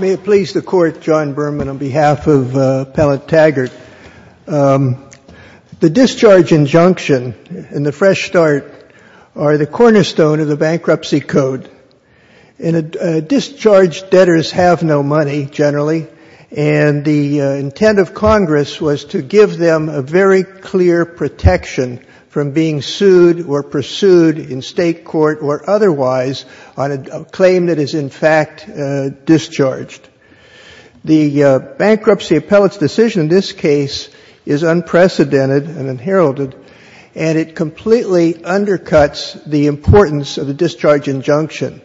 May it please the Court, John Berman, on behalf of Pellett-Taggart. The Discharge Injunction and the Fresh Start are the cornerstone of the Bankruptcy Code. Discharged debtors have no money, generally, and the intent of Congress was to give them a very clear protection from being sued or pursued in state court or otherwise on a claim that is, in fact, discharged. The bankruptcy appellate's decision in this case is unprecedented and unheralded and it completely undercuts the importance of the Discharge Injunction.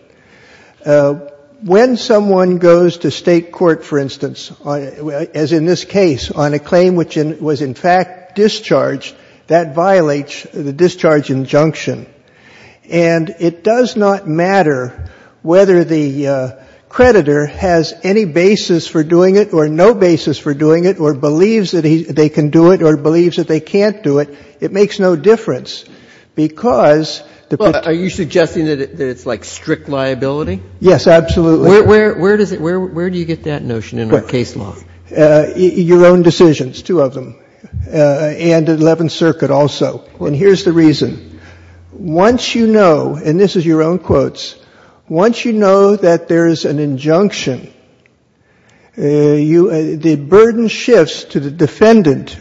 When someone goes to state court, for instance, as in this case, on a claim which was, in fact, discharged, that violates the Discharge Injunction. And it does not matter whether the creditor has any basis for doing it or no basis for doing it or believes that they can do it or believes that they can't do it. It makes no difference, because the person — Well, are you suggesting that it's, like, strict liability? Yes, absolutely. Where does it — where do you get that notion in our case law? Your own decisions, two of them, and the Eleventh Circuit also. And here's the reason. Once you know — and this is your own quotes — once you know that there is an injunction, the burden shifts to the defendant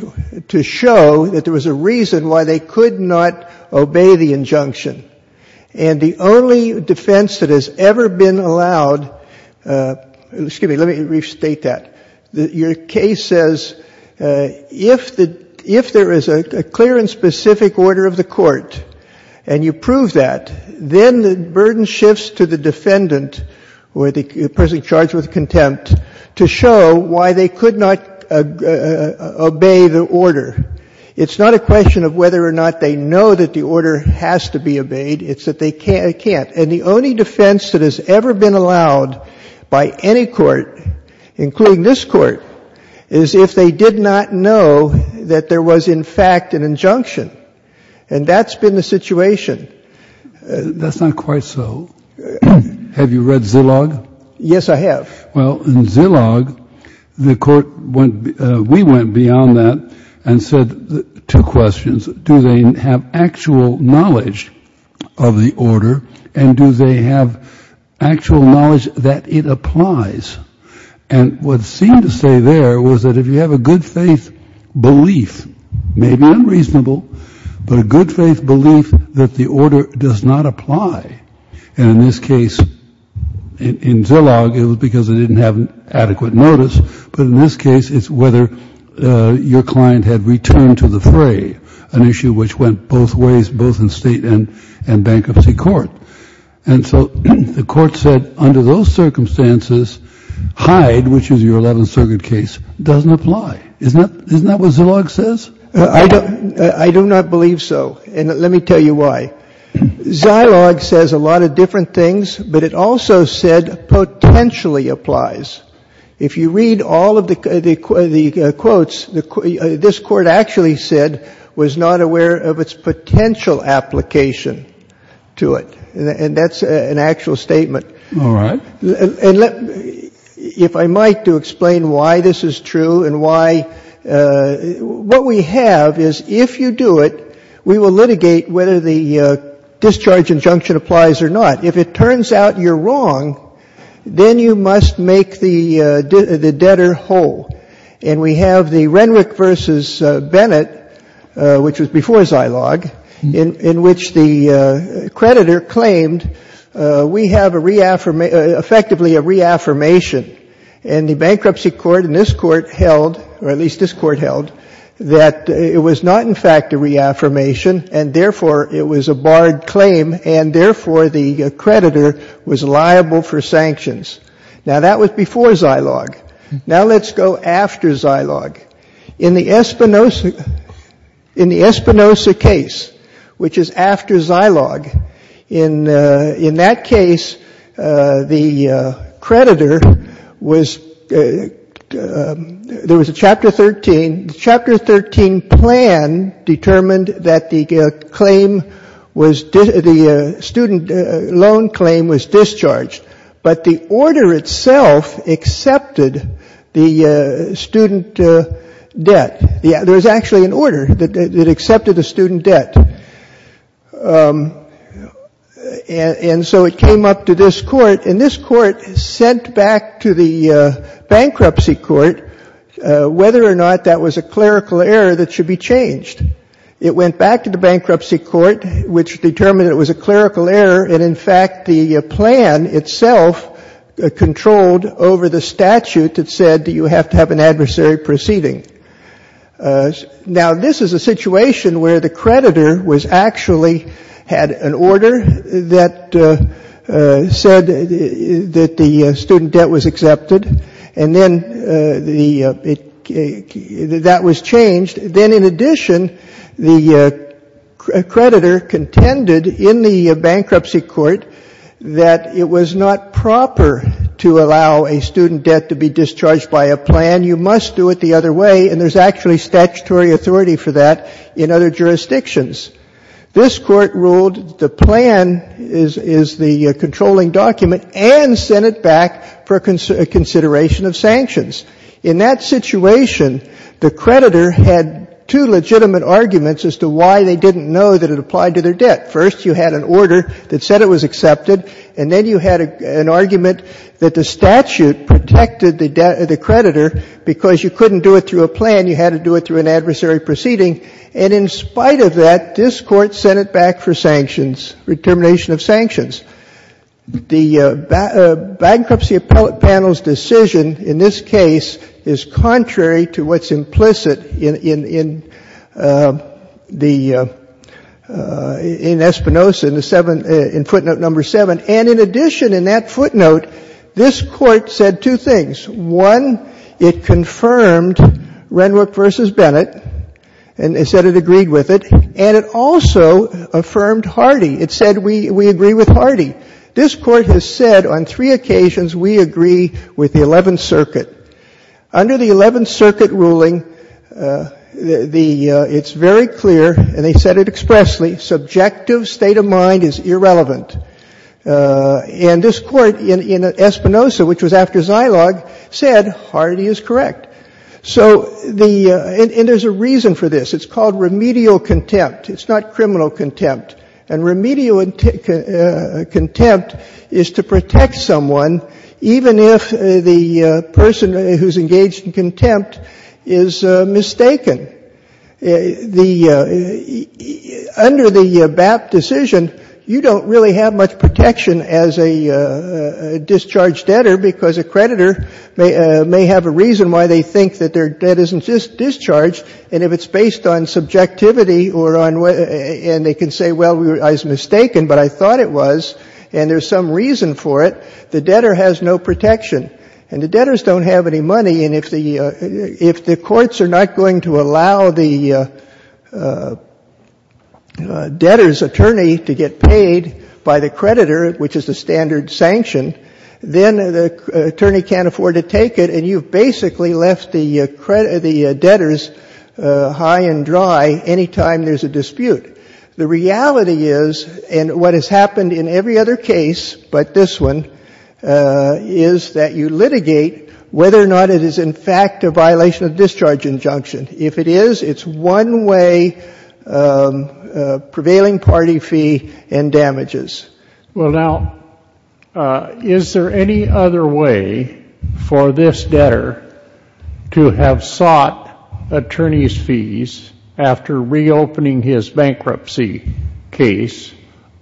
to show that there was a reason why they could not obey the injunction. And the only defense that has ever been allowed — excuse me, let me restate that. Your case says, if there is a clear and specific order of the court, and you prove that, then the burden shifts to the defendant or the person charged with contempt to show why they could not obey the order. It's not a question of whether or not they know that the order has to be obeyed. It's that they can't. And the only defense that has ever been allowed by any court, including this Court, is if they did not know that there was, in fact, an injunction. And that's been the situation. That's not quite so. Have you read Zillog? Yes, I have. Well, in Zillog, the Court went — we went beyond that and said two questions. First, do they have actual knowledge of the order, and do they have actual knowledge that it applies? And what seemed to stay there was that if you have a good-faith belief — maybe unreasonable — but a good-faith belief that the order does not apply — and in this case, in Zillog, it was because they didn't have adequate notice — but in this case, it's whether your client had returned to the fray, an issue which went both ways, both in State and Bankruptcy Court. And so the Court said, under those circumstances, Hyde, which is your 11th Circuit case, doesn't apply. Isn't that — isn't that what Zillog says? I do not believe so, and let me tell you why. Zillog says a lot of different things, but it also said potentially applies. If you read all of the quotes, this Court actually said was not aware of its potential application to it, and that's an actual statement. And let — if I might, to explain why this is true and why — what we have is if you do it, we will litigate whether the discharge injunction applies or not. If it turns out you're wrong, then you must make the debtor whole. And we have the Renwick v. Bennett, which was before Zillog, in which the creditor claimed we have a — effectively a reaffirmation, and the Bankruptcy Court and this Court held — or at least this Court held — that it was not, in fact, a reaffirmation, and therefore it was a barred claim, and therefore the creditor was liable for sanctions. Now that was before Zillog. Now let's go after Zillog. In the Espinoza — in the Espinoza case, which is after Zillog, in that case, the creditor was — there was a Chapter 13. Chapter 13 plan determined that the claim was — the student loan claim was discharged, but the order itself accepted the student debt. There was actually an order that accepted the student debt. And so it came up to this Court, and this Court sent back to the Bankruptcy Court whether or not that was a clerical error that should be changed. It went back to the Bankruptcy Court, which determined it was a clerical error, and in fact the plan itself controlled over the statute that said you have to have an adversary proceeding. Now this is a situation where the creditor was actually — had an order that said that the student debt was accepted, and then the — that was changed. Then in addition, the creditor contended in the Bankruptcy Court that it was not proper to allow a student debt to be discharged by a plan. You must do it the other way, and there's actually statutory authority for that in other jurisdictions. This Court ruled the plan is the controlling document and sent it back for consideration of sanctions. In that situation, the creditor had two legitimate arguments as to why they didn't know that it applied to their debt. First you had an order that said it was accepted, and then you had an argument that the statute protected the creditor because you couldn't do it through a plan, you had to do it through an adversary proceeding. And in spite of that, this Court sent it back for sanctions, determination of sanctions. The Bankruptcy Appellate Panel's decision in this case is contrary to what's implicit in the — in Espinoza, in footnote number 7. And in addition, in that footnote, this Court said two things. One, it confirmed Renwick v. Bennett, and it said it agreed with it, and it also affirmed Hardy. It said, we agree with Hardy. This Court has said on three occasions, we agree with the Eleventh Circuit. Under the Eleventh Circuit ruling, the — it's very clear, and they said it expressly, subjective state of mind is irrelevant. And this Court in Espinoza, which was after Zilog, said Hardy is correct. So the — and there's a reason for this. It's called remedial contempt. It's not criminal contempt. And remedial contempt is to protect someone, even if the person who's engaged in contempt is mistaken. The — under the BAP decision, you don't really have much protection as a discharged debtor, because a creditor may have a reason why they think that their debt isn't discharged. And if it's based on subjectivity or on — and they can say, well, I was mistaken, but I thought it was, and there's some reason for it, the debtor has no protection. And the debtors don't have any money. And if the — if the courts are not going to allow the debtor's attorney to get paid by the creditor, which is the standard sanction, then the attorney can't afford to take it, and you've basically left the debtor's high and dry any time there's a dispute. The reality is, and what has happened in every other case but this one, is that you have a debtor who is in fact a violation of discharge injunction. If it is, it's one way prevailing party fee and damages. Well, now, is there any other way for this debtor to have sought attorney's fees after reopening his bankruptcy case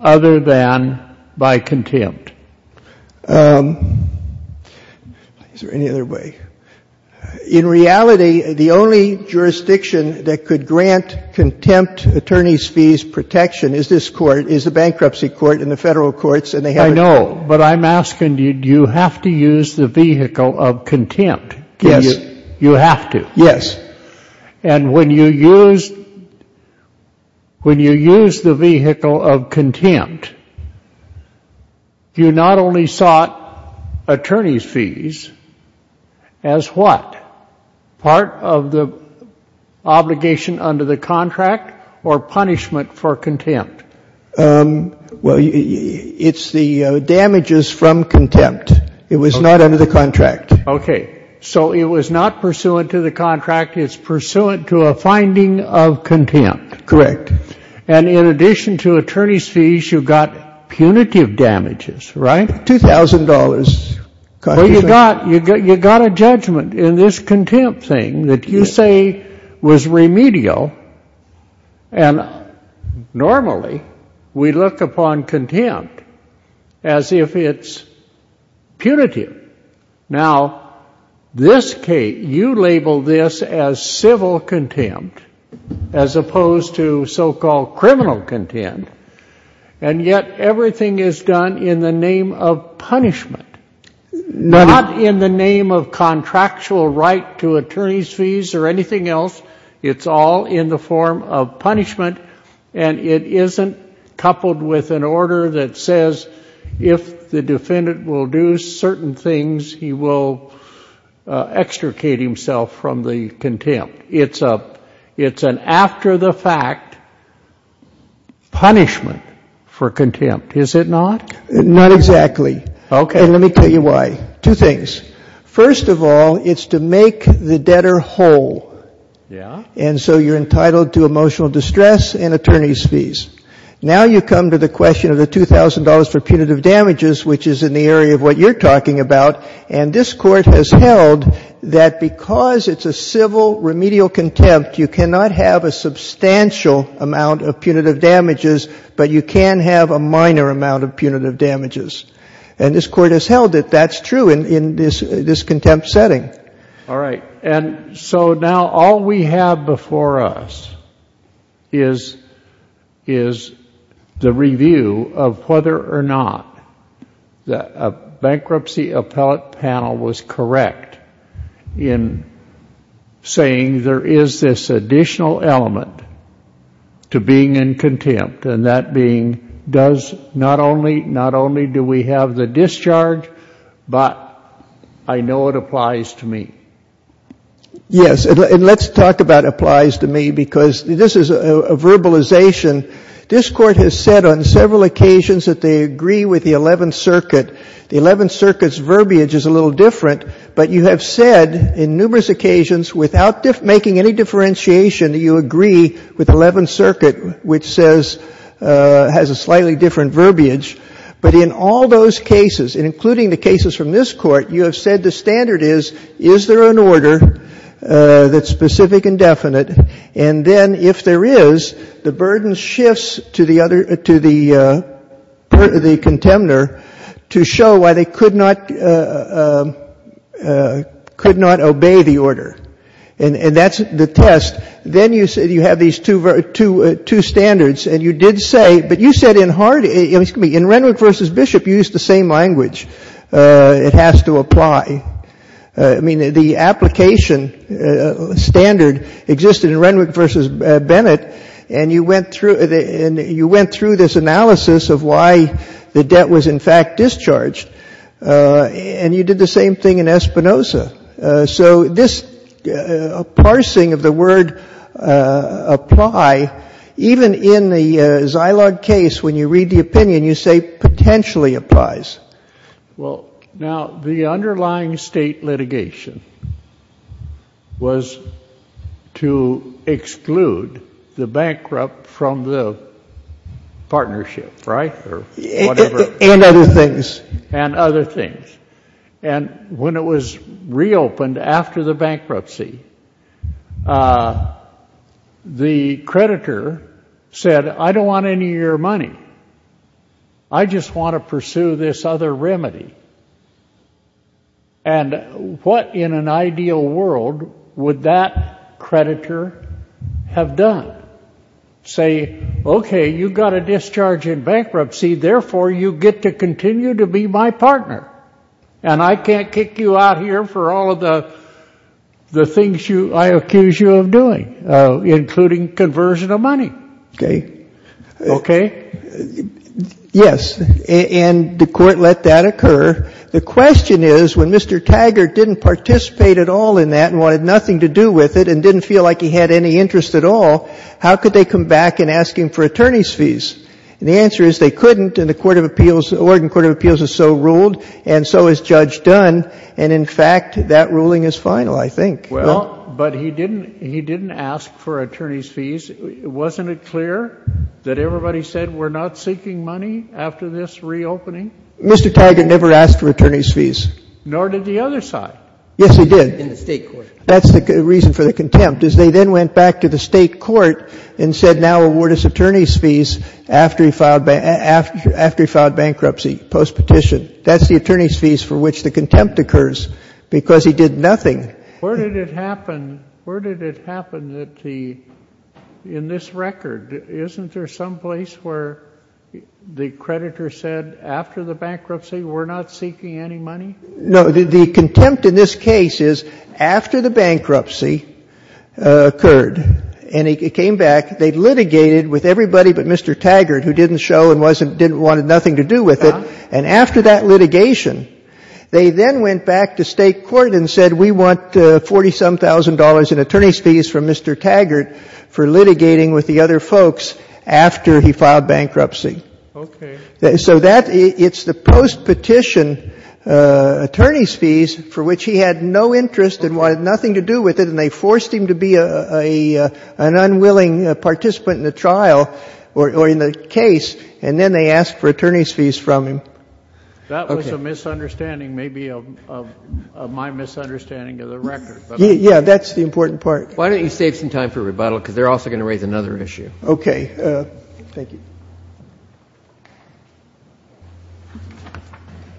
other than by contempt? Is there any other way? In reality, the only jurisdiction that could grant contempt attorney's fees protection is this court, is the bankruptcy court and the Federal Courts, and they haven't — I know, but I'm asking you, do you have to use the vehicle of contempt? Yes. You have to? Yes. And you not only sought attorney's fees as what? Part of the obligation under the contract or punishment for contempt? Well, it's the damages from contempt. It was not under the contract. Okay. So it was not pursuant to the contract. It's pursuant to a finding of contempt. Correct. And in addition to attorney's fees, you got punitive damages, right? $2,000. Well, you got a judgment in this contempt thing that you say was remedial, and normally we look upon contempt as if it's punitive. Now, this case, you label this as civil contempt as opposed to civil damages. It's opposed to so-called criminal contempt, and yet everything is done in the name of punishment, not in the name of contractual right to attorney's fees or anything else. It's all in the form of punishment, and it isn't coupled with an order that says if the defendant will do certain things, he will extricate himself from the contempt. So it's an after-the-fact punishment for contempt, is it not? Not exactly. Okay. And let me tell you why. Two things. First of all, it's to make the debtor whole. Yeah. And so you're entitled to emotional distress and attorney's fees. Now you come to the question of the $2,000 for punitive damages, which is in the area of what you're talking about, and this Court has held that because it's a civil remedial contempt, you cannot have a substantial amount of punitive damages, but you can have a minor amount of punitive damages. And this Court has held that that's true in this contempt setting. All right. And so now all we have before us is the review of whether or not a bankruptcy appellate panel was correct in saying there is this additional element to being in contempt, and that being, not only do we have the discharge, but I know it applies to me. Yes. And let's talk about applies to me, because this is a verbalization. This Court has said on several occasions that they agree with the Eleventh Circuit. The Eleventh Circuit's verbiage is a little different, but you have said in numerous occasions, without making any differentiation, that you agree with the Eleventh Circuit. Is there an order that's specific and definite? And then if there is, the burden shifts to the other, to the contemnor to show why they could not, could not obey the order. And that's the test. Then you have these two standards, and you did say, but you said in Harding, excuse me, in Renwick v. Bishop you used the same language. It has to apply. I mean, the application standard existed in Renwick v. Bennett, and you went through this analysis of why the debt was, in fact, discharged. And you did the same thing in Espinoza. So this parsing of the word apply, even in the Zilog case, when you read the opinion, you say potentially applies. Well, now, the underlying state litigation was to exclude the bankrupt from the partnership, right, or whatever. And other things. And other things. And when it was reopened after the bankruptcy, the creditor said, I don't want any of your money. I just want to pursue this other remedy. And what in an ideal world would that creditor have done? Say, okay, you got a discharge in bankruptcy, therefore you get to continue to be my partner. And I can't kick you out here for all of the things I accuse you of doing, including conversion of money. Okay? Yes. And the Court let that occur. The question is, when Mr. Taggart didn't participate at all in that and wanted nothing to do with it and didn't feel like he had any interest at all, how could they come back and ask him for attorney's fees? And the answer is they couldn't, and the Court of Appeals, Oregon Court of Appeals is so ruled, and so is Judge Dunn. And, in fact, that ruling is final, I think. Well, but he didn't ask for attorney's fees. Wasn't it clear that everybody said we're not seeking money after this reopening? Mr. Taggart never asked for attorney's fees. Nor did the other side. Yes, he did. In the State court. That's the reason for the contempt, is they then went back to the State court and said now award us attorney's fees after he filed bankruptcy, post-petition. That's the attorney's fees for which the contempt occurs, because he did nothing. Where did it happen that the — in this record, isn't there some place where the creditor said after the bankruptcy we're not seeking any money? No. The contempt in this case is after the bankruptcy occurred, and he came back, they litigated with everybody but Mr. Taggart, who didn't show and wasn't — wanted nothing to do with it, and after that litigation, they then went back to State court and said we want $40-some-thousand in attorney's fees from Mr. Taggart for litigating with the other folks after he filed bankruptcy. Okay. So that — it's the post-petition attorney's fees for which he had no interest and wanted nothing to do with it, and they forced him to be an unwilling participant in the trial or in the case, and then they asked for attorney's fees from him. Okay. That was a misunderstanding, maybe of my misunderstanding of the record. Yeah, that's the important part. Why don't you save some time for rebuttal, because they're also going to raise another issue. Okay. Thank you.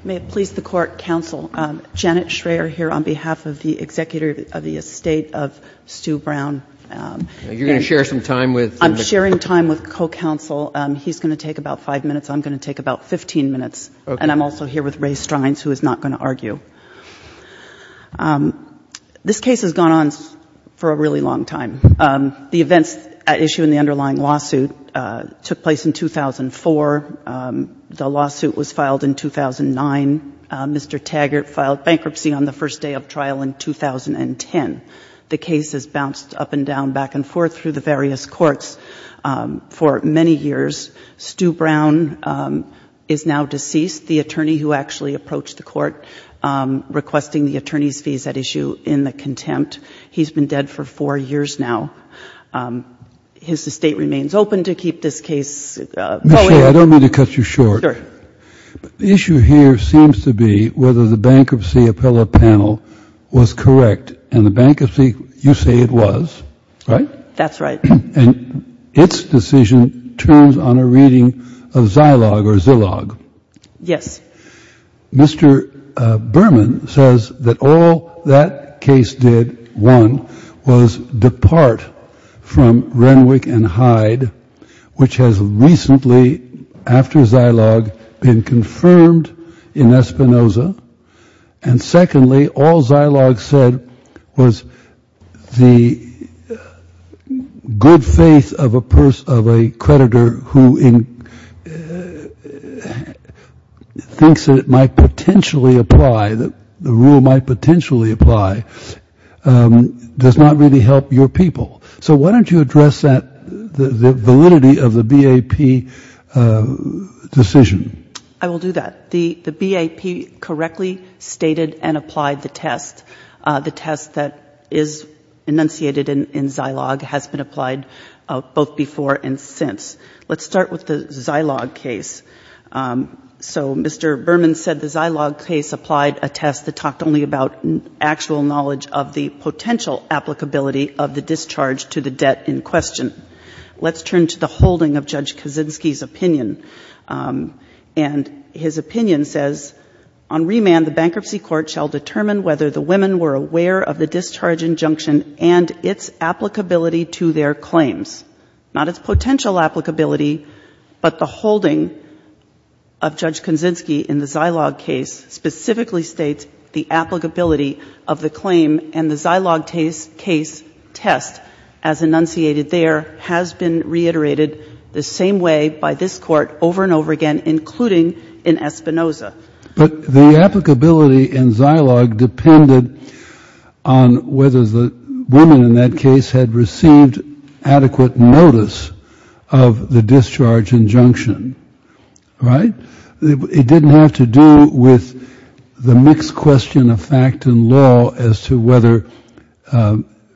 May it please the court, counsel, Janet Schreyer here on behalf of the executive of the estate of Stu Brown. You're going to share some time with — I'm sharing time with co-counsel. He's going to take about five minutes. I'm going to take about 15 minutes. Okay. And I'm also here with Ray Strines, who is not going to argue. This case has gone on for a really long time. The events at issue in the underlying lawsuit took place in 2004. The lawsuit was filed in 2009. Mr. Taggart filed bankruptcy on the first day of trial in 2010. The case has bounced up and down, back and forth through the various courts for many years. Stu Brown is now deceased. The attorney who actually approached the court requesting the attorney's fees at issue in the contempt, he's been dead for four years now. His estate remains open to keep this case going. Ms. Schreyer, I don't mean to cut you short. Sure. The issue here seems to be whether the bankruptcy appellate panel was correct, and the bankruptcy, you say it was, right? That's right. And its decision turns on a reading of Zilog or Zilog. Yes. Mr. Berman says that all that case did, one, was depart from Renwick and Hyde, which has recently, after Zilog, been confirmed in Espinoza. And secondly, all Zilog said was the good faith of a creditor who thinks that it might potentially apply, that the rule might potentially apply, does not really help your people. So why don't you address that, the validity of the BAP decision? I will do that. The BAP correctly stated and applied the test. The test that is enunciated in Zilog has been applied both before and since. Let's start with the Zilog case. So Mr. Berman said the Zilog case applied a test that talked only about actual knowledge of the potential applicability of the discharge to the debt in question. Let's turn to the holding of Judge Kaczynski's opinion. And his opinion says, on remand the bankruptcy court shall determine whether the women were aware of the discharge injunction and its applicability to their claims. Not its potential applicability, but the holding of Judge Kaczynski in the Zilog case specifically states the applicability of the claim and the Zilog case test, as enunciated there, has been reiterated the same way by this Court over and over again, including in Espinoza. But the applicability in Zilog depended on whether the women in that case had received adequate notice of the discharge injunction, right? It didn't have to do with the mixed question of fact and law as to whether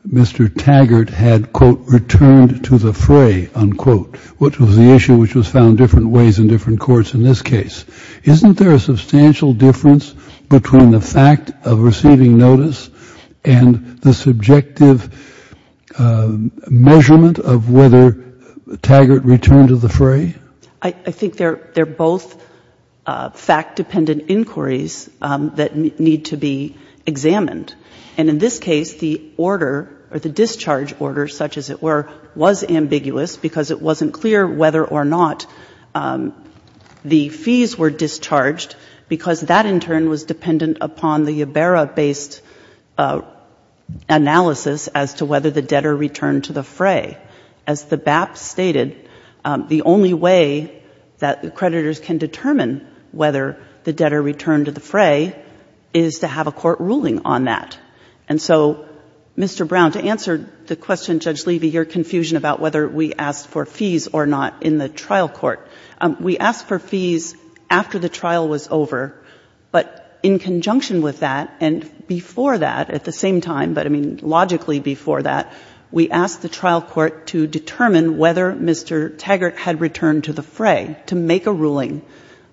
Mr. Taggart had, quote, returned to the fray, unquote, which was the issue which was found different ways in different courts in this case. Isn't there a substantial difference between the fact of receiving notice and the subjective measurement of whether Taggart returned to the fray? I think they're both fact-dependent inquiries that need to be examined. And in this case, the order or the discharge order, such as it were, was ambiguous because it wasn't clear whether or not the fees were discharged because that, in turn, was dependent upon the Iberra-based analysis as to whether the debtor returned to the fray. As the BAP stated, the only way that the creditors can determine whether the debtor returned to the fray is to have a court ruling on that. And so, Mr. Brown, to answer the question, Judge Levy, your confusion about whether we asked for fees or not in the trial court, we asked for fees after the trial was over, but in conjunction with that and before that at the same time, but, I mean, logically before that, we asked the trial court to determine whether Mr. Taggart had returned to the fray to make a ruling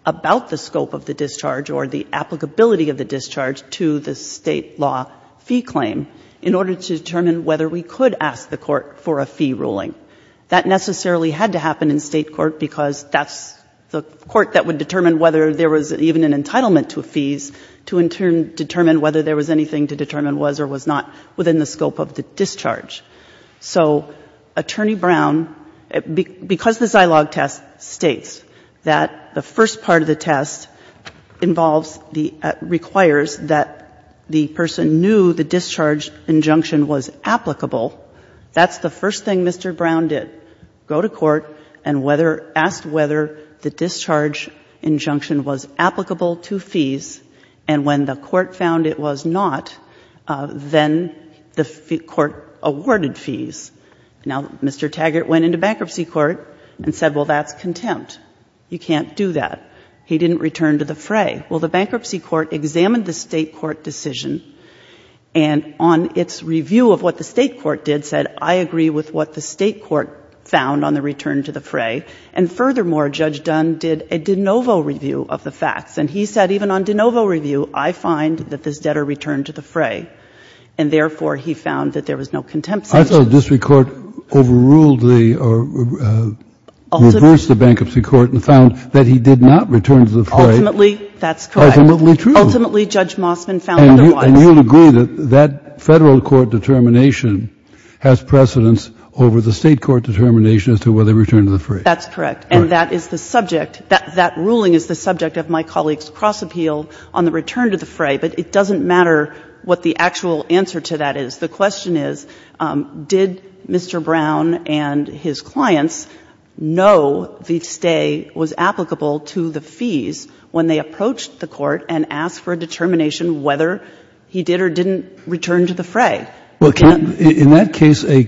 about the scope of the discharge or the applicability of the discharge to the State law fee claim in order to determine whether we could ask the court for a fee ruling. That necessarily had to happen in State court because that's the court that would determine whether there was even an entitlement to fees to, in turn, determine whether there was anything to determine was or was not within the scope of the discharge. So, Attorney Brown, because the Zilog test states that the first part of the test involves the, requires that the person knew the discharge injunction was applicable, that's the first thing Mr. Brown did. Go to court and whether, ask whether the discharge injunction was applicable to fees and when the court found it was not, then the court awarded fees. Now, Mr. Taggart went into bankruptcy court and said, well, that's contempt. You can't do that. He didn't return to the fray. Well, the bankruptcy court examined the State court decision and on its review of what the State court did, said, I agree with what the State court found on the return to the fray. And furthermore, Judge Dunn did a de novo review of the facts. And he said, even on de novo review, I find that this debtor returned to the fray. And, therefore, he found that there was no contempt. I thought the district court overruled the, or reversed the bankruptcy court and found that he did not return to the fray. Ultimately, that's correct. Ultimately, true. Ultimately, Judge Mossman found otherwise. And you'll agree that that Federal court determination has precedence over the State court determination as to whether he returned to the fray. That's correct. And that is the subject. That ruling is the subject of my colleague's cross-appeal on the return to the fray. But it doesn't matter what the actual answer to that is. The question is, did Mr. Brown and his clients know the stay was applicable to the fees when they approached the court and asked for a determination whether he did or didn't return to the fray? Well, in that case, a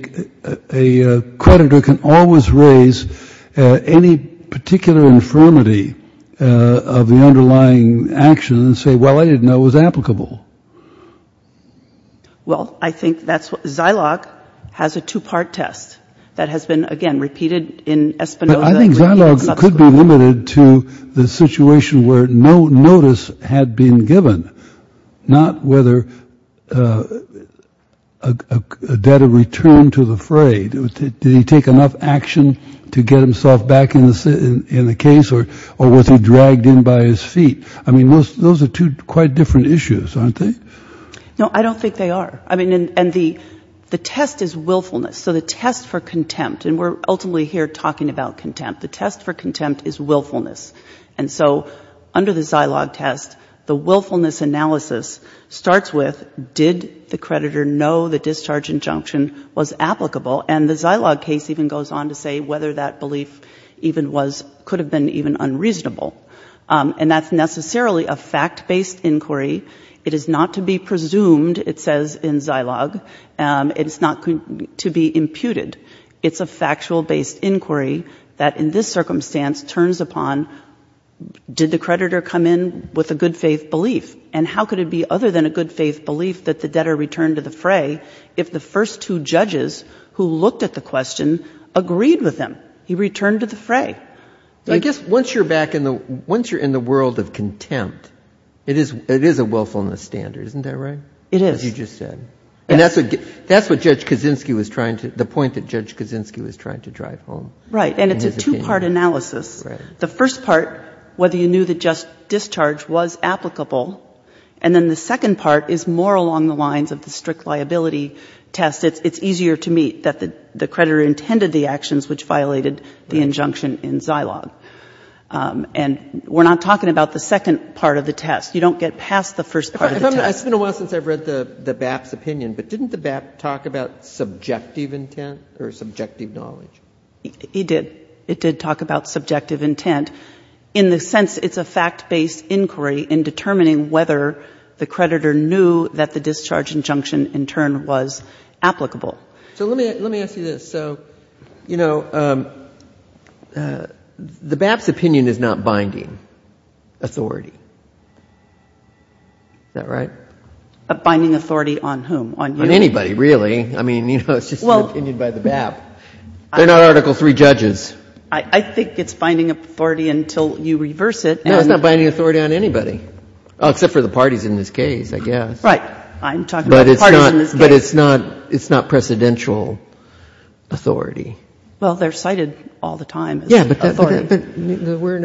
creditor can always raise any particular infirmity of the underlying action and say, well, I didn't know it was applicable. Well, I think that's what Zilog has a two-part test that has been, again, repeated in Espinoza. But I think Zilog could be limited to the situation where no notice had been given, not whether a debtor returned to the fray. Did he take enough action to get himself back in the case, or was he dragged in by his feet? I mean, those are two quite different issues, aren't they? No, I don't think they are. I mean, and the test is willfulness. So the test for contempt, and we're ultimately here talking about contempt. The test for contempt is willfulness. And so under the Zilog test, the willfulness analysis starts with, did the creditor know the discharge injunction was applicable? And the Zilog case even goes on to say whether that belief even could have been unreasonable. And that's necessarily a fact-based inquiry. It is not to be presumed, it says in Zilog. It is not to be imputed. It's a factual-based inquiry that in this circumstance turns upon, did the creditor come in with a good-faith belief? And how could it be other than a good-faith belief that the debtor returned to the fray if the first two judges who looked at the question agreed with him? He returned to the fray. I guess once you're back in the world of contempt, it is a willfulness standard, isn't that right? It is. As you just said. And that's what Judge Kaczynski was trying to, the point that Judge Kaczynski was trying to drive home. Right. And it's a two-part analysis. Right. The first part, whether you knew the discharge was applicable, and then the second part is more along the lines of the strict liability test. It's easier to meet that the creditor intended the actions which violated the injunction in Zilog. And we're not talking about the second part of the test. You don't get past the first part of the test. It's been a while since I've read the BAP's opinion, but didn't the BAP talk about subjective intent or subjective knowledge? It did. It did talk about subjective intent in the sense it's a fact-based inquiry in determining whether the creditor knew that the discharge injunction in turn was applicable. So let me ask you this. So, you know, the BAP's opinion is not binding authority. Is that right? A binding authority on whom? On anybody, really. I mean, you know, it's just an opinion by the BAP. They're not Article III judges. I think it's binding authority until you reverse it. No, it's not binding authority on anybody, except for the parties in this case, I guess. Right. I'm talking about the parties in this case. But it's not precedential authority. Well, they're cited all the time as authority. Yeah, but we're in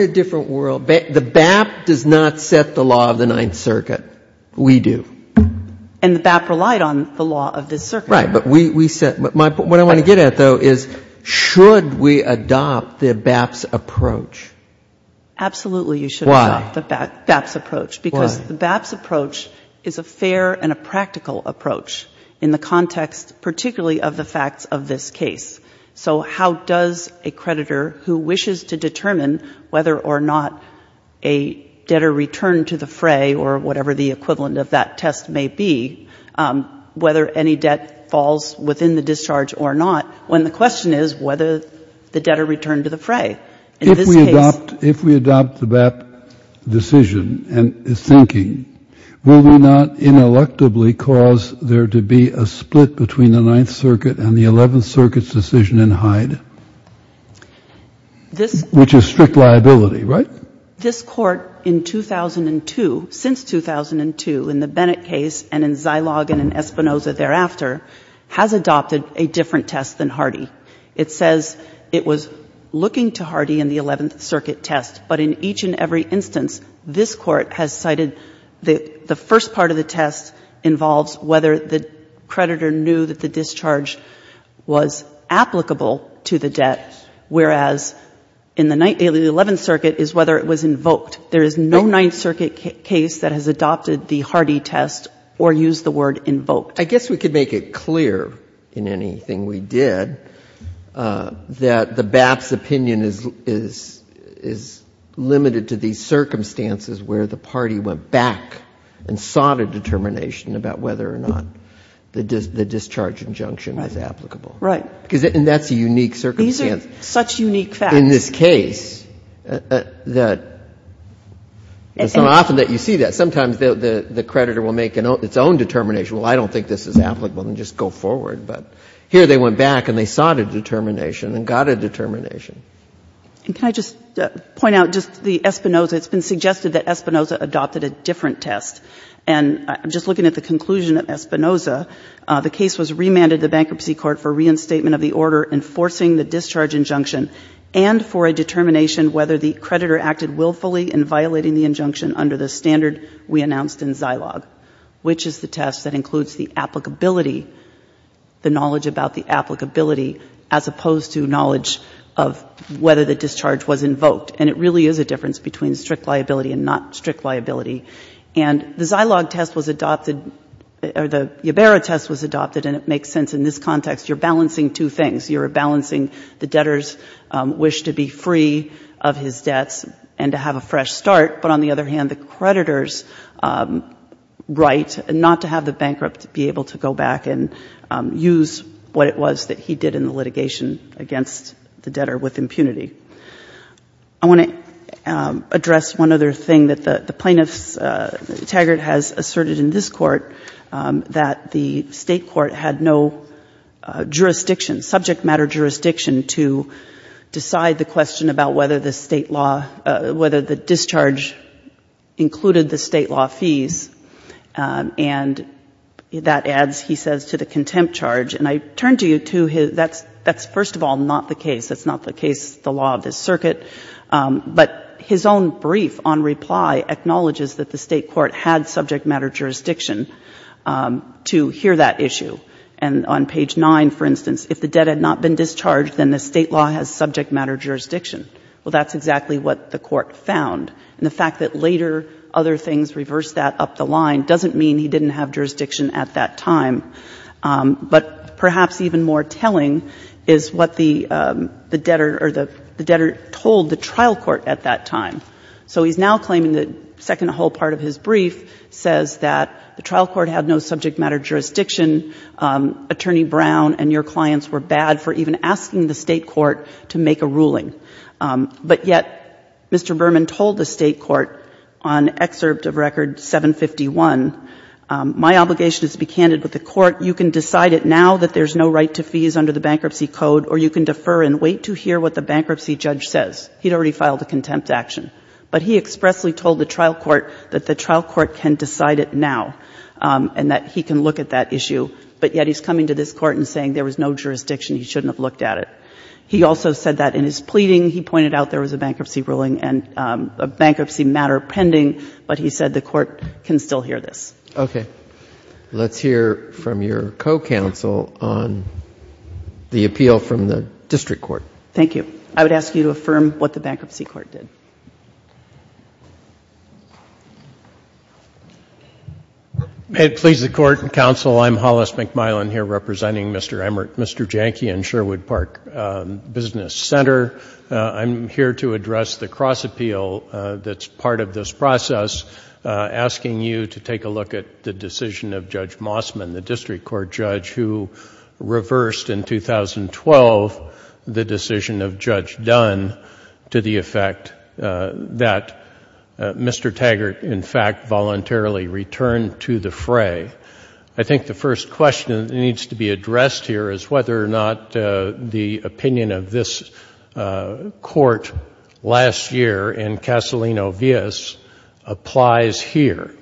a different world. The BAP does not set the law of the Ninth Circuit. We do. And the BAP relied on the law of the Circuit. Right. But what I want to get at, though, is should we adopt the BAP's approach? Absolutely, you should adopt the BAP's approach. Why? Because the BAP's approach is a fair and a practical approach in the context particularly of the facts of this case. So how does a creditor who wishes to determine whether or not a debtor returned to the fray, or whatever the equivalent of that test may be, whether any debt falls within the discharge or not, when the question is whether the debtor returned to the fray? If we adopt the BAP decision and its thinking, will we not ineluctably cause there to be a split between the Ninth Circuit and the Eleventh Circuit's decision in Hyde, which is strict liability, right? This Court in 2002, since 2002, in the Bennett case and in Zilogin and Espinoza thereafter, has adopted a different test than Hardy. It says it was looking to Hardy in the Eleventh Circuit test. But in each and every instance, this Court has cited the first part of the test involves whether the creditor knew that the discharge was applicable to the debt, whereas in the Eleventh Circuit is whether it was invoked. There is no Ninth Circuit case that has adopted the Hardy test or used the word invoked. I guess we could make it clear in anything we did that the BAP's opinion is limited to these circumstances where the party went back and sought a determination about whether or not the discharge injunction was applicable. Right. And that's a unique circumstance. These are such unique facts. In this case, it's not often that you see that. Sometimes the creditor will make its own determination. Well, I don't think this is applicable. Then just go forward. But here they went back and they sought a determination and got a determination. And can I just point out just the Espinoza. It's been suggested that Espinoza adopted a different test. And I'm just looking at the conclusion of Espinoza. The case was remanded to the Bankruptcy Court for reinstatement of the order enforcing the discharge injunction and for a determination whether the creditor acted willfully in violating the injunction under the standard we announced in Zilog, which is the test that includes the applicability, the knowledge about the applicability, as opposed to knowledge of whether the discharge was invoked. And it really is a difference between strict liability and not strict liability. And the Zilog test was adopted, or the Ibarra test was adopted, and it makes sense in this context. You're balancing two things. You're balancing the debtors' wish to be free of his debts and to have a fresh start, but on the other hand, the creditor's right not to have the bankrupt be able to go back and use what it was that he did in the litigation against the debtor with impunity. I want to address one other thing that the plaintiff's tagger has asserted in this case, which is that the State court had no jurisdiction, subject matter jurisdiction to decide the question about whether the State law, whether the discharge included the State law fees. And that adds, he says, to the contempt charge. And I turn to you to his, that's first of all not the case. That's not the case, the law of this circuit. But his own brief on reply acknowledges that the State court had subject matter jurisdiction to hear that issue. And on page 9, for instance, if the debt had not been discharged, then the State law has subject matter jurisdiction. Well, that's exactly what the court found. And the fact that later other things reversed that up the line doesn't mean he didn't have jurisdiction at that time. But perhaps even more telling is what the debtor or the debtor told the trial court at that time. So he's now claiming the second whole part of his brief says that the trial court had no subject matter jurisdiction. Attorney Brown and your clients were bad for even asking the State court to make a ruling. But yet, Mr. Berman told the State court on excerpt of record 751, my obligation is to be candid with the court. You can decide it now that there's no right to fees under the bankruptcy code or you can defer and wait to hear what the bankruptcy judge says. He'd already filed a contempt action. But he expressly told the trial court that the trial court can decide it now and that he can look at that issue. But yet he's coming to this court and saying there was no jurisdiction, he shouldn't have looked at it. He also said that in his pleading, he pointed out there was a bankruptcy ruling and a bankruptcy matter pending, but he said the court can still hear this. Okay. Let's hear from your co-counsel on the appeal from the district court. Thank you. I would ask you to affirm what the bankruptcy court did. May it please the court and counsel, I'm Hollis McMillan here representing Mr. Jahnke and Sherwood Park Business Center. I'm here to address the cross appeal that's part of this process, asking you to take a look at the decision of Judge Mossman, the district court judge who reversed in 2012 the decision of Judge Dunn to the effect that Mr. Taggart, in fact, voluntarily returned to the fray. I think the first question that needs to be addressed here is whether or not the opinion of this court last year in Castellino-Villas applies here.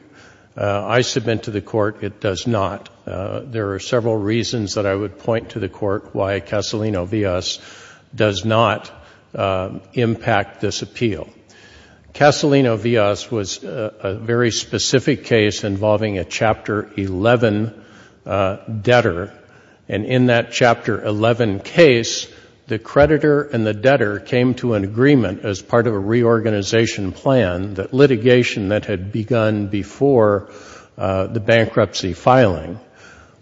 I submit to the court it does not. There are several reasons that I would point to the court why Castellino-Villas does not impact this appeal. Castellino-Villas was a very specific case involving a Chapter 11 debtor, and in that case, the creditor and the debtor came to an agreement as part of a reorganization plan that litigation that had begun before the bankruptcy filing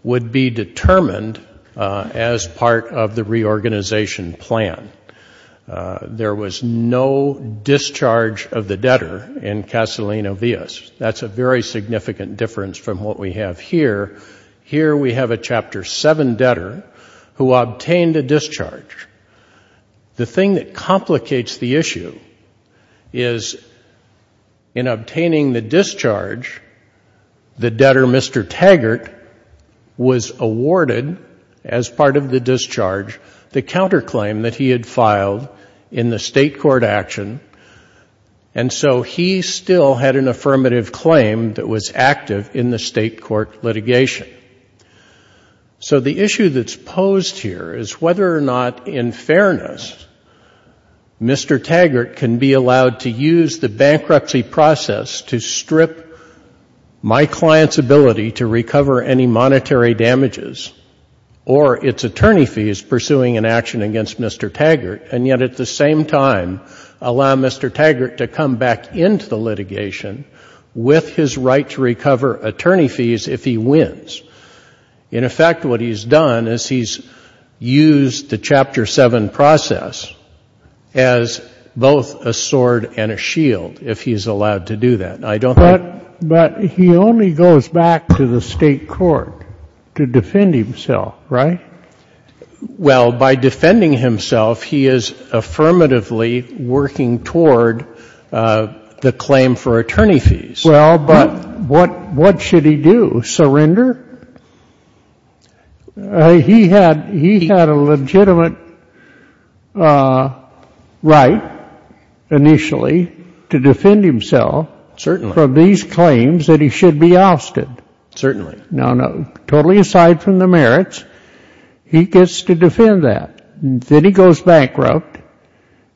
would be determined as part of the reorganization plan. There was no discharge of the debtor in Castellino-Villas. That's a very significant difference from what we have here. Here we have a Chapter 7 debtor who obtained a discharge. The thing that complicates the issue is in obtaining the discharge, the debtor, Mr. Taggart, was awarded as part of the discharge the counterclaim that he had filed in the state court action, and so he still had an affirmative claim that was active in the state court litigation. So the issue that's posed here is whether or not, in fairness, Mr. Taggart can be allowed to use the bankruptcy process to strip my client's ability to recover any monetary damages or its attorney fees pursuing an action against Mr. Taggart, and yet at the same time, allow Mr. Taggart to come back into the litigation with his right to recover attorney fees if he wins. In effect, what he's done is he's used the Chapter 7 process as both a sword and a shield, if he's allowed to do that. But he only goes back to the state court to defend himself, right? Well, by defending himself, he is affirmatively working toward the claim for attorney fees. Well, but what should he do, surrender? He had a legitimate right initially to defend himself. Certainly. From these claims that he should be ousted. Certainly. Now, totally aside from the merits, he gets to defend that. Then he goes bankrupt.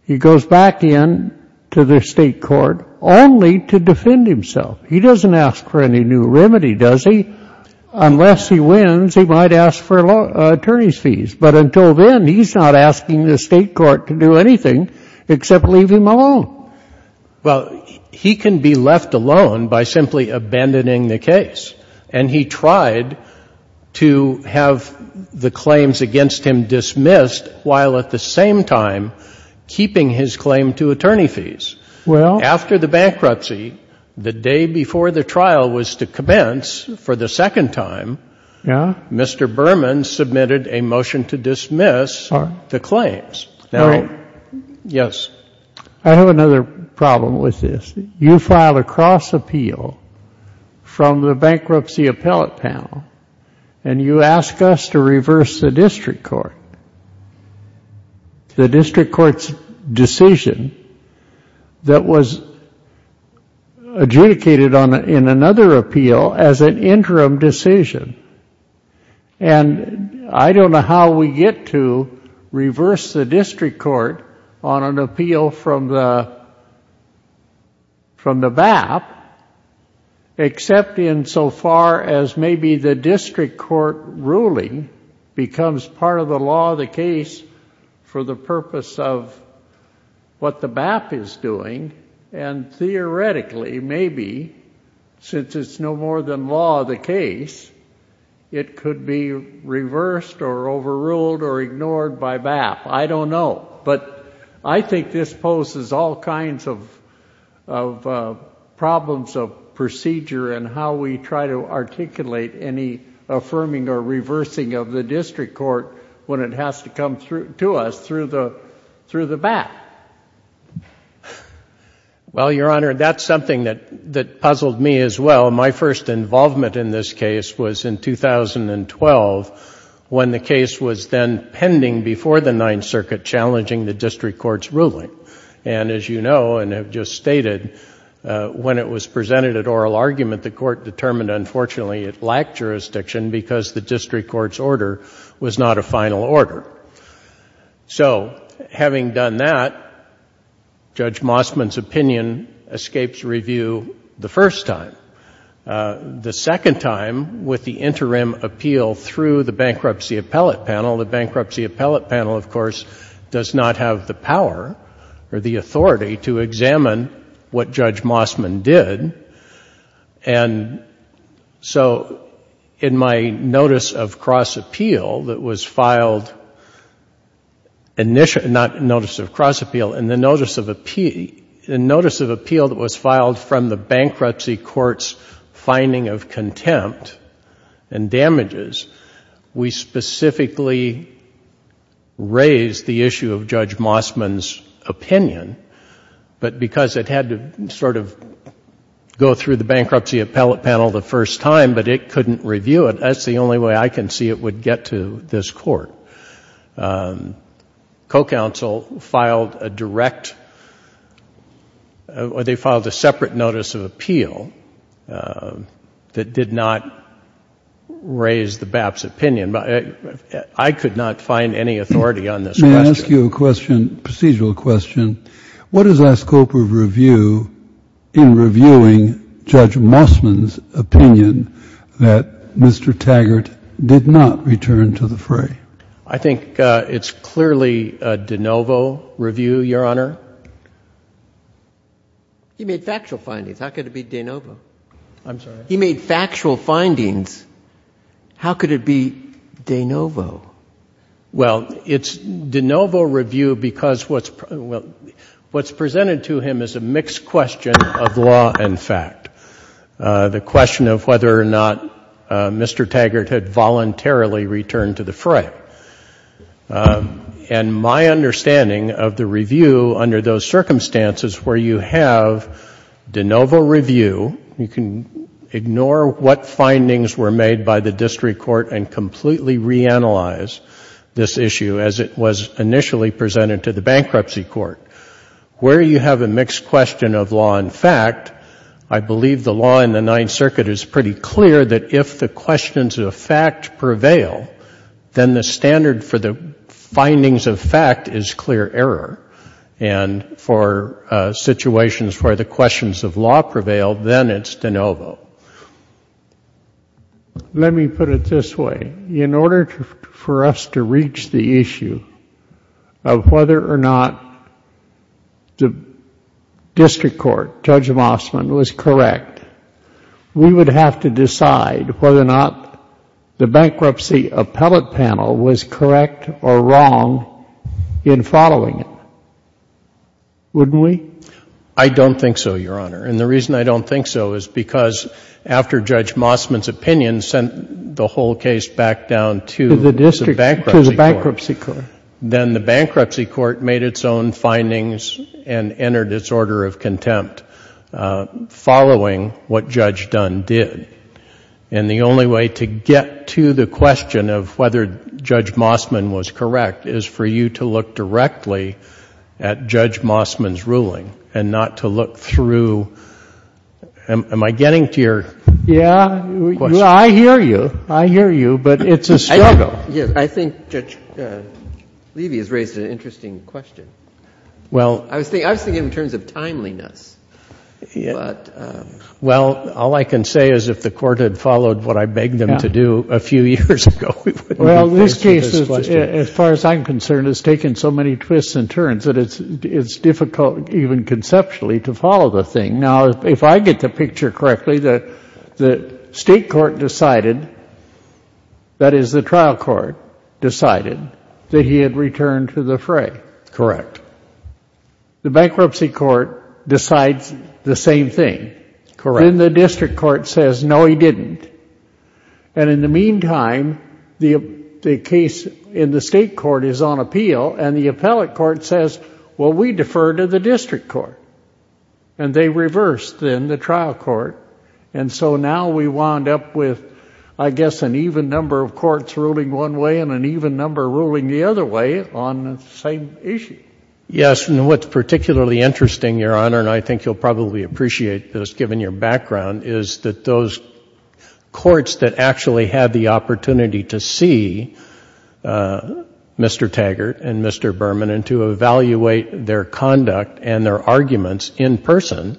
He goes back in to the state court only to defend himself. He doesn't ask for any new remedy, does he? Unless he wins, he might ask for attorney fees. But until then, he's not asking the state court to do anything except leave him alone. Well, he can be left alone by simply abandoning the case. And he tried to have the claims against him dismissed while at the same time keeping his claim to attorney fees. Well. After the bankruptcy, the day before the trial was to commence for the second time. Yeah. Mr. Berman submitted a motion to dismiss the claims. All right. Yes. I have another problem with this. You filed a cross appeal from the bankruptcy appellate panel, and you ask us to reverse the district court. The district court's decision that was adjudicated in another appeal as an interim decision. And I don't know how we get to reverse the district court on an appeal from the BAP, except in so far as maybe the district court ruling becomes part of the law of the case for the purpose of what the BAP is doing. And theoretically, maybe, since it's no more than law of the case, it could be reversed or overruled or ignored by BAP. I don't know. But I think this poses all kinds of problems of procedure in how we try to articulate any affirming or reversing of the district court when it has to come to us through the BAP. Well, Your Honor, that's something that puzzled me as well. My first involvement in this case was in 2012 when the case was then pending before the Ninth Circuit, challenging the district court's ruling. And as you know and have just stated, when it was presented at oral argument, the court determined, unfortunately, it lacked jurisdiction because the district court's order was not a final order. So having done that, Judge Mossman's opinion escapes review the first time. The second time, with the interim appeal through the Bankruptcy Appellate Panel, the Bankruptcy Appellate Panel, of course, does not have the power or the authority to examine what Judge Mossman did. And so in my notice of cross-appeal that was filed, not notice of cross-appeal, in the notice of appeal that was filed from the Bankruptcy Court's finding of contempt and damages, we specifically raised the issue of Judge Mossman's opinion. But because it had to sort of go through the Bankruptcy Appellate Panel the first time, but it couldn't review it, that's the only way I can see it would get to this court. Co-counsel filed a direct or they filed a separate notice of appeal that did not raise the BAP's opinion. But I could not find any authority on this question. Procedural question. What is our scope of review in reviewing Judge Mossman's opinion that Mr. Taggart did not return to the fray? I think it's clearly a de novo review, Your Honor. He made factual findings. How could it be de novo? I'm sorry? He made factual findings. How could it be de novo? Well, it's de novo review because what's presented to him is a mixed question of law and fact. The question of whether or not Mr. Taggart had voluntarily returned to the fray. And my understanding of the review under those circumstances where you have de novo review, you can ignore what findings were made by the district court and completely reanalyze this issue as it was initially presented to the bankruptcy court. Where you have a mixed question of law and fact, I believe the law in the Ninth Circuit is pretty clear that if the questions of fact prevail, then the standard for the findings of fact is clear error. And for situations where the questions of law prevail, then it's de novo. Let me put it this way. In order for us to reach the issue of whether or not the district court, Judge Mossman, was correct, we would have to decide whether or not the bankruptcy appellate panel was correct or wrong in following it. Wouldn't we? I don't think so, Your Honor. And the reason I don't think so is because after Judge Mossman's opinion sent the whole case back down to the bankruptcy court, then the bankruptcy court made its own findings and entered its order of contempt following what Judge Dunn did. And the only way to get to the question of whether Judge Mossman was correct is for you to look directly at the question at Judge Mossman's ruling and not to look through, am I getting to your question? Yeah. I hear you. I hear you. But it's a struggle. I think Judge Levy has raised an interesting question. I was thinking in terms of timeliness. Well, all I can say is if the Court had followed what I begged them to do a few years ago, we wouldn't be facing this question. As far as I'm concerned, it's taken so many twists and turns that it's difficult even conceptually to follow the thing. Now, if I get the picture correctly, the state court decided, that is the trial court decided, that he had returned to the fray. Correct. The bankruptcy court decides the same thing. Then the district court says, no, he didn't. And in the meantime, the case in the state court is on appeal, and the appellate court says, well, we defer to the district court. And they reversed, then, the trial court. And so now we wound up with, I guess, an even number of courts ruling one way and an even number ruling the other way on the same issue. Yes, and what's particularly interesting, Your Honor, and I think you'll probably appreciate this given your background, is that those courts that actually had the opportunity to see Mr. Taggart and Mr. Berman and to evaluate their conduct and their arguments in person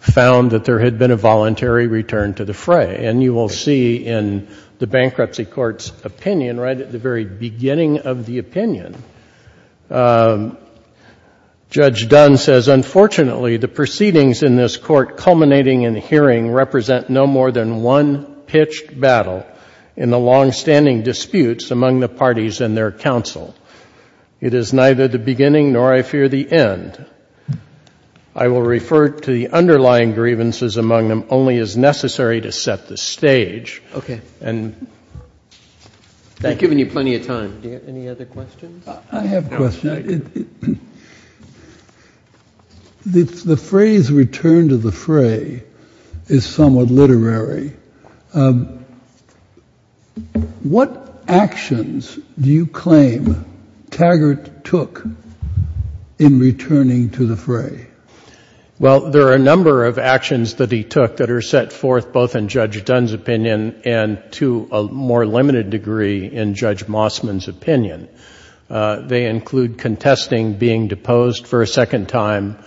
found that there had been a voluntary return to the fray. And you will see in the bankruptcy court's opinion right at the very beginning of the opinion, Judge Dunn says, unfortunately, the proceedings in this court culminating in hearing represent no more than one pitched battle in the longstanding disputes among the parties and their counsel. It is neither the beginning nor, I fear, the end. I will refer to the underlying grievances among them only as necessary to set the stage. And I've given you plenty of time. Do you have any other questions? I have a question. The phrase return to the fray is somewhat literary. What actions do you claim Taggart took in returning to the fray? Well, there are a number of actions that he took that are set forth both in Judge Dunn's opinion and to a more limited degree in Judge Mossman's opinion. They include contesting being deposed for a second time,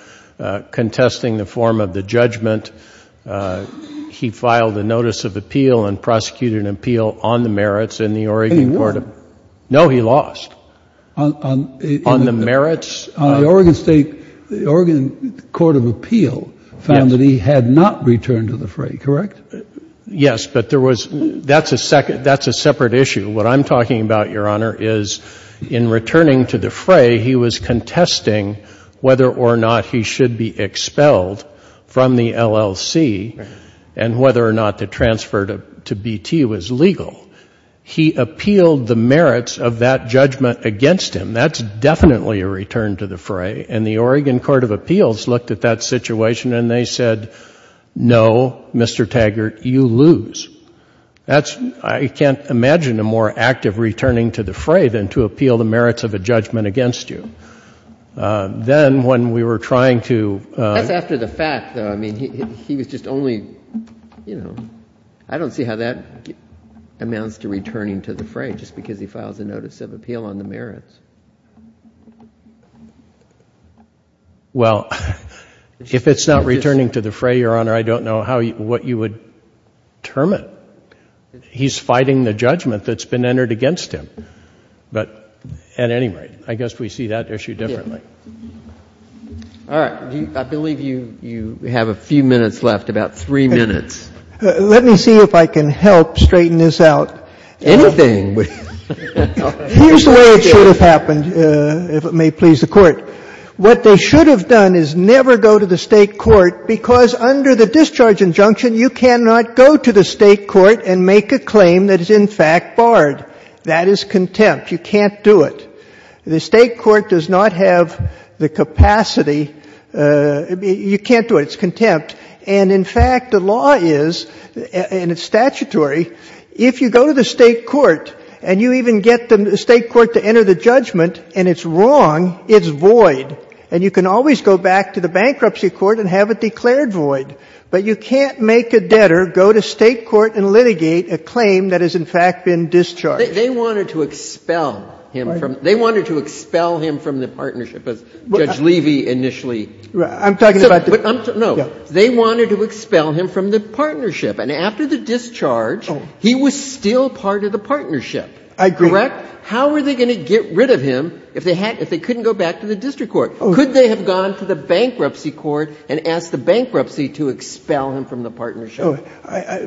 contesting the form of the judgment. He filed a notice of appeal and prosecuted an appeal on the merits in the Oregon court of... And he won. No, he lost on the merits. The Oregon state, the Oregon court of appeal found that he had not returned to the fray, correct? Yes, but there was that's a separate issue. What I'm talking about, Your Honor, is in returning to the fray, he was contesting whether or not he should be expelled from the LLC and whether or not the transfer to BT was legal. He appealed the merits of that judgment against him. That's definitely a return to the fray. And the Oregon court of appeals looked at that situation and they said, no, Mr. Taggart, you lose. That's, I can't imagine a more active returning to the fray than to appeal the merits of a judgment against you. Then when we were trying to... Well, if it's not returning to the fray, Your Honor, I don't know what you would determine. He's fighting the judgment that's been entered against him. But at any rate, I guess we see that issue differently. All right. I believe you have a few minutes left, about three minutes. Let me see if I can help straighten this out. Here's the way it should have happened, if it may please the Court. What they should have done is never go to the State court because under the discharge injunction, you cannot go to the State court and make a claim that is in fact barred. That is contempt. You can't do it. The State court does not have the capacity. You can't do it. It's contempt. And in fact, the law is, and it's statutory, if you go to the State court and you even get the State court to enter the judgment and it's wrong, it's void. And you can always go back to the bankruptcy court and have it declared void. But you can't make a debtor go to State court and litigate a claim that has in fact been discharged. They wanted to expel him from the partnership, as Judge Levy initially said. I'm talking about the — No. They wanted to expel him from the partnership. And after the discharge, he was still part of the partnership. I agree. Correct? How were they going to get rid of him if they couldn't go back to the district court? Could they have gone to the bankruptcy court and asked the bankruptcy to expel him from the partnership?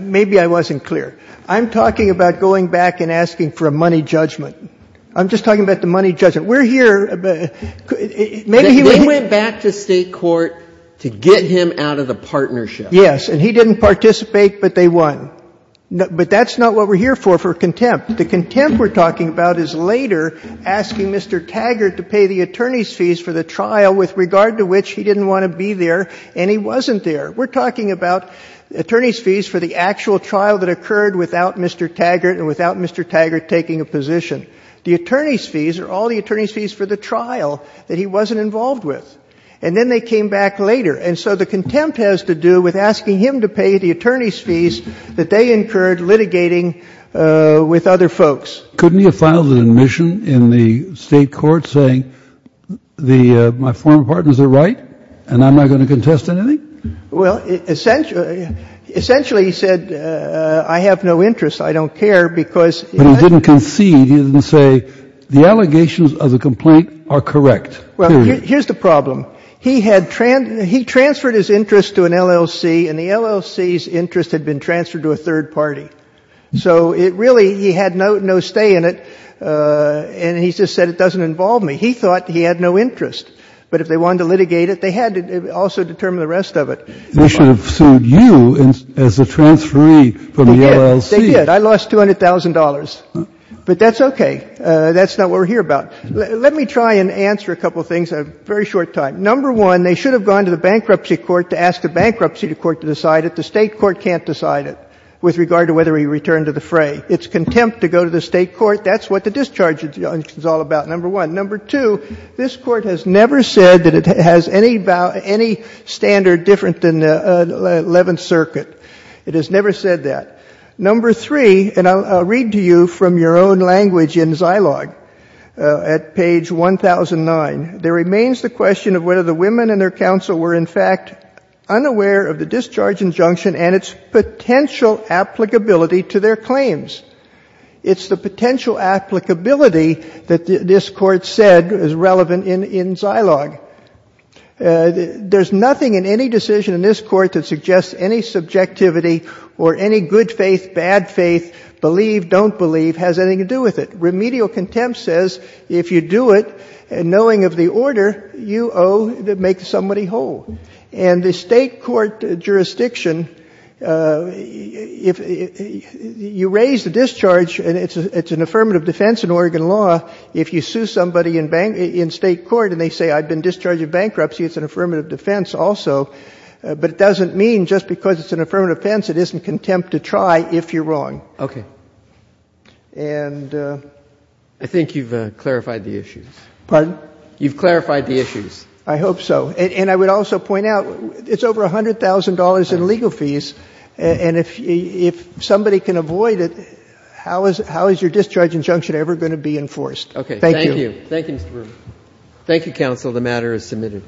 Maybe I wasn't clear. I'm talking about going back and asking for a money judgment. I'm just talking about the money judgment. We're here. Maybe he was — They went back to State court to get him out of the partnership. Yes. And he didn't participate, but they won. But that's not what we're here for, for contempt. The contempt we're talking about is later asking Mr. Taggart to pay the attorney's fees for the trial with regard to which he didn't want to be there and he wasn't there. We're talking about attorney's fees for the actual trial that occurred without Mr. Taggart and without Mr. Taggart taking a position. The attorney's fees are all the attorney's fees for the trial that he wasn't involved with. And then they came back later. And so the contempt has to do with asking him to pay the attorney's fees that they incurred litigating with other folks. Couldn't he have filed an admission in the State court saying my former partners are right and I'm not going to contest anything? Well, essentially he said I have no interest, I don't care because — But he didn't concede. He didn't say the allegations of the complaint are correct. Well, here's the problem. He had — he transferred his interest to an LLC and the LLC's interest had been transferred to a third party. So it really — he had no stay in it and he just said it doesn't involve me. He thought he had no interest. But if they wanted to litigate it, they had to also determine the rest of it. They should have sued you as the transferee for the LLC. They did. I lost $200,000. But that's okay. That's not what we're here about. Let me try and answer a couple of things in a very short time. Number one, they should have gone to the bankruptcy court to ask the bankruptcy court to decide it. The State court can't decide it with regard to whether he returned to the fray. It's contempt to go to the State court. That's what the discharge is all about, number one. Number two, this Court has never said that it has any standard different than the Eleventh Circuit. It has never said that. Number three, and I'll read to you from your own language in Zilog at page 1009. There remains the question of whether the women and their counsel were, in fact, unaware of the discharge injunction and its potential applicability to their claims. It's the potential applicability that this Court said is relevant in Zilog. There's nothing in any decision in this Court that suggests any subjectivity or any good faith, bad faith, believe, don't believe, has anything to do with it. Remedial contempt says if you do it, knowing of the order, you owe to make somebody whole. And the State court jurisdiction, if you raise the discharge, and it's an affirmative defense in Oregon law, if you sue somebody in State court and they say I've been discharged in bankruptcy, it's an affirmative defense also. But it doesn't mean just because it's an affirmative defense it isn't contempt to try if you're wrong. And the — I think you've clarified the issues. Pardon? You've clarified the issues. I hope so. And I would also point out it's over $100,000 in legal fees. And if somebody can avoid it, how is your discharge injunction ever going to be enforced? Thank you. Okay. Thank you. Thank you, Mr. Rubin. Thank you, counsel. The matter is submitted.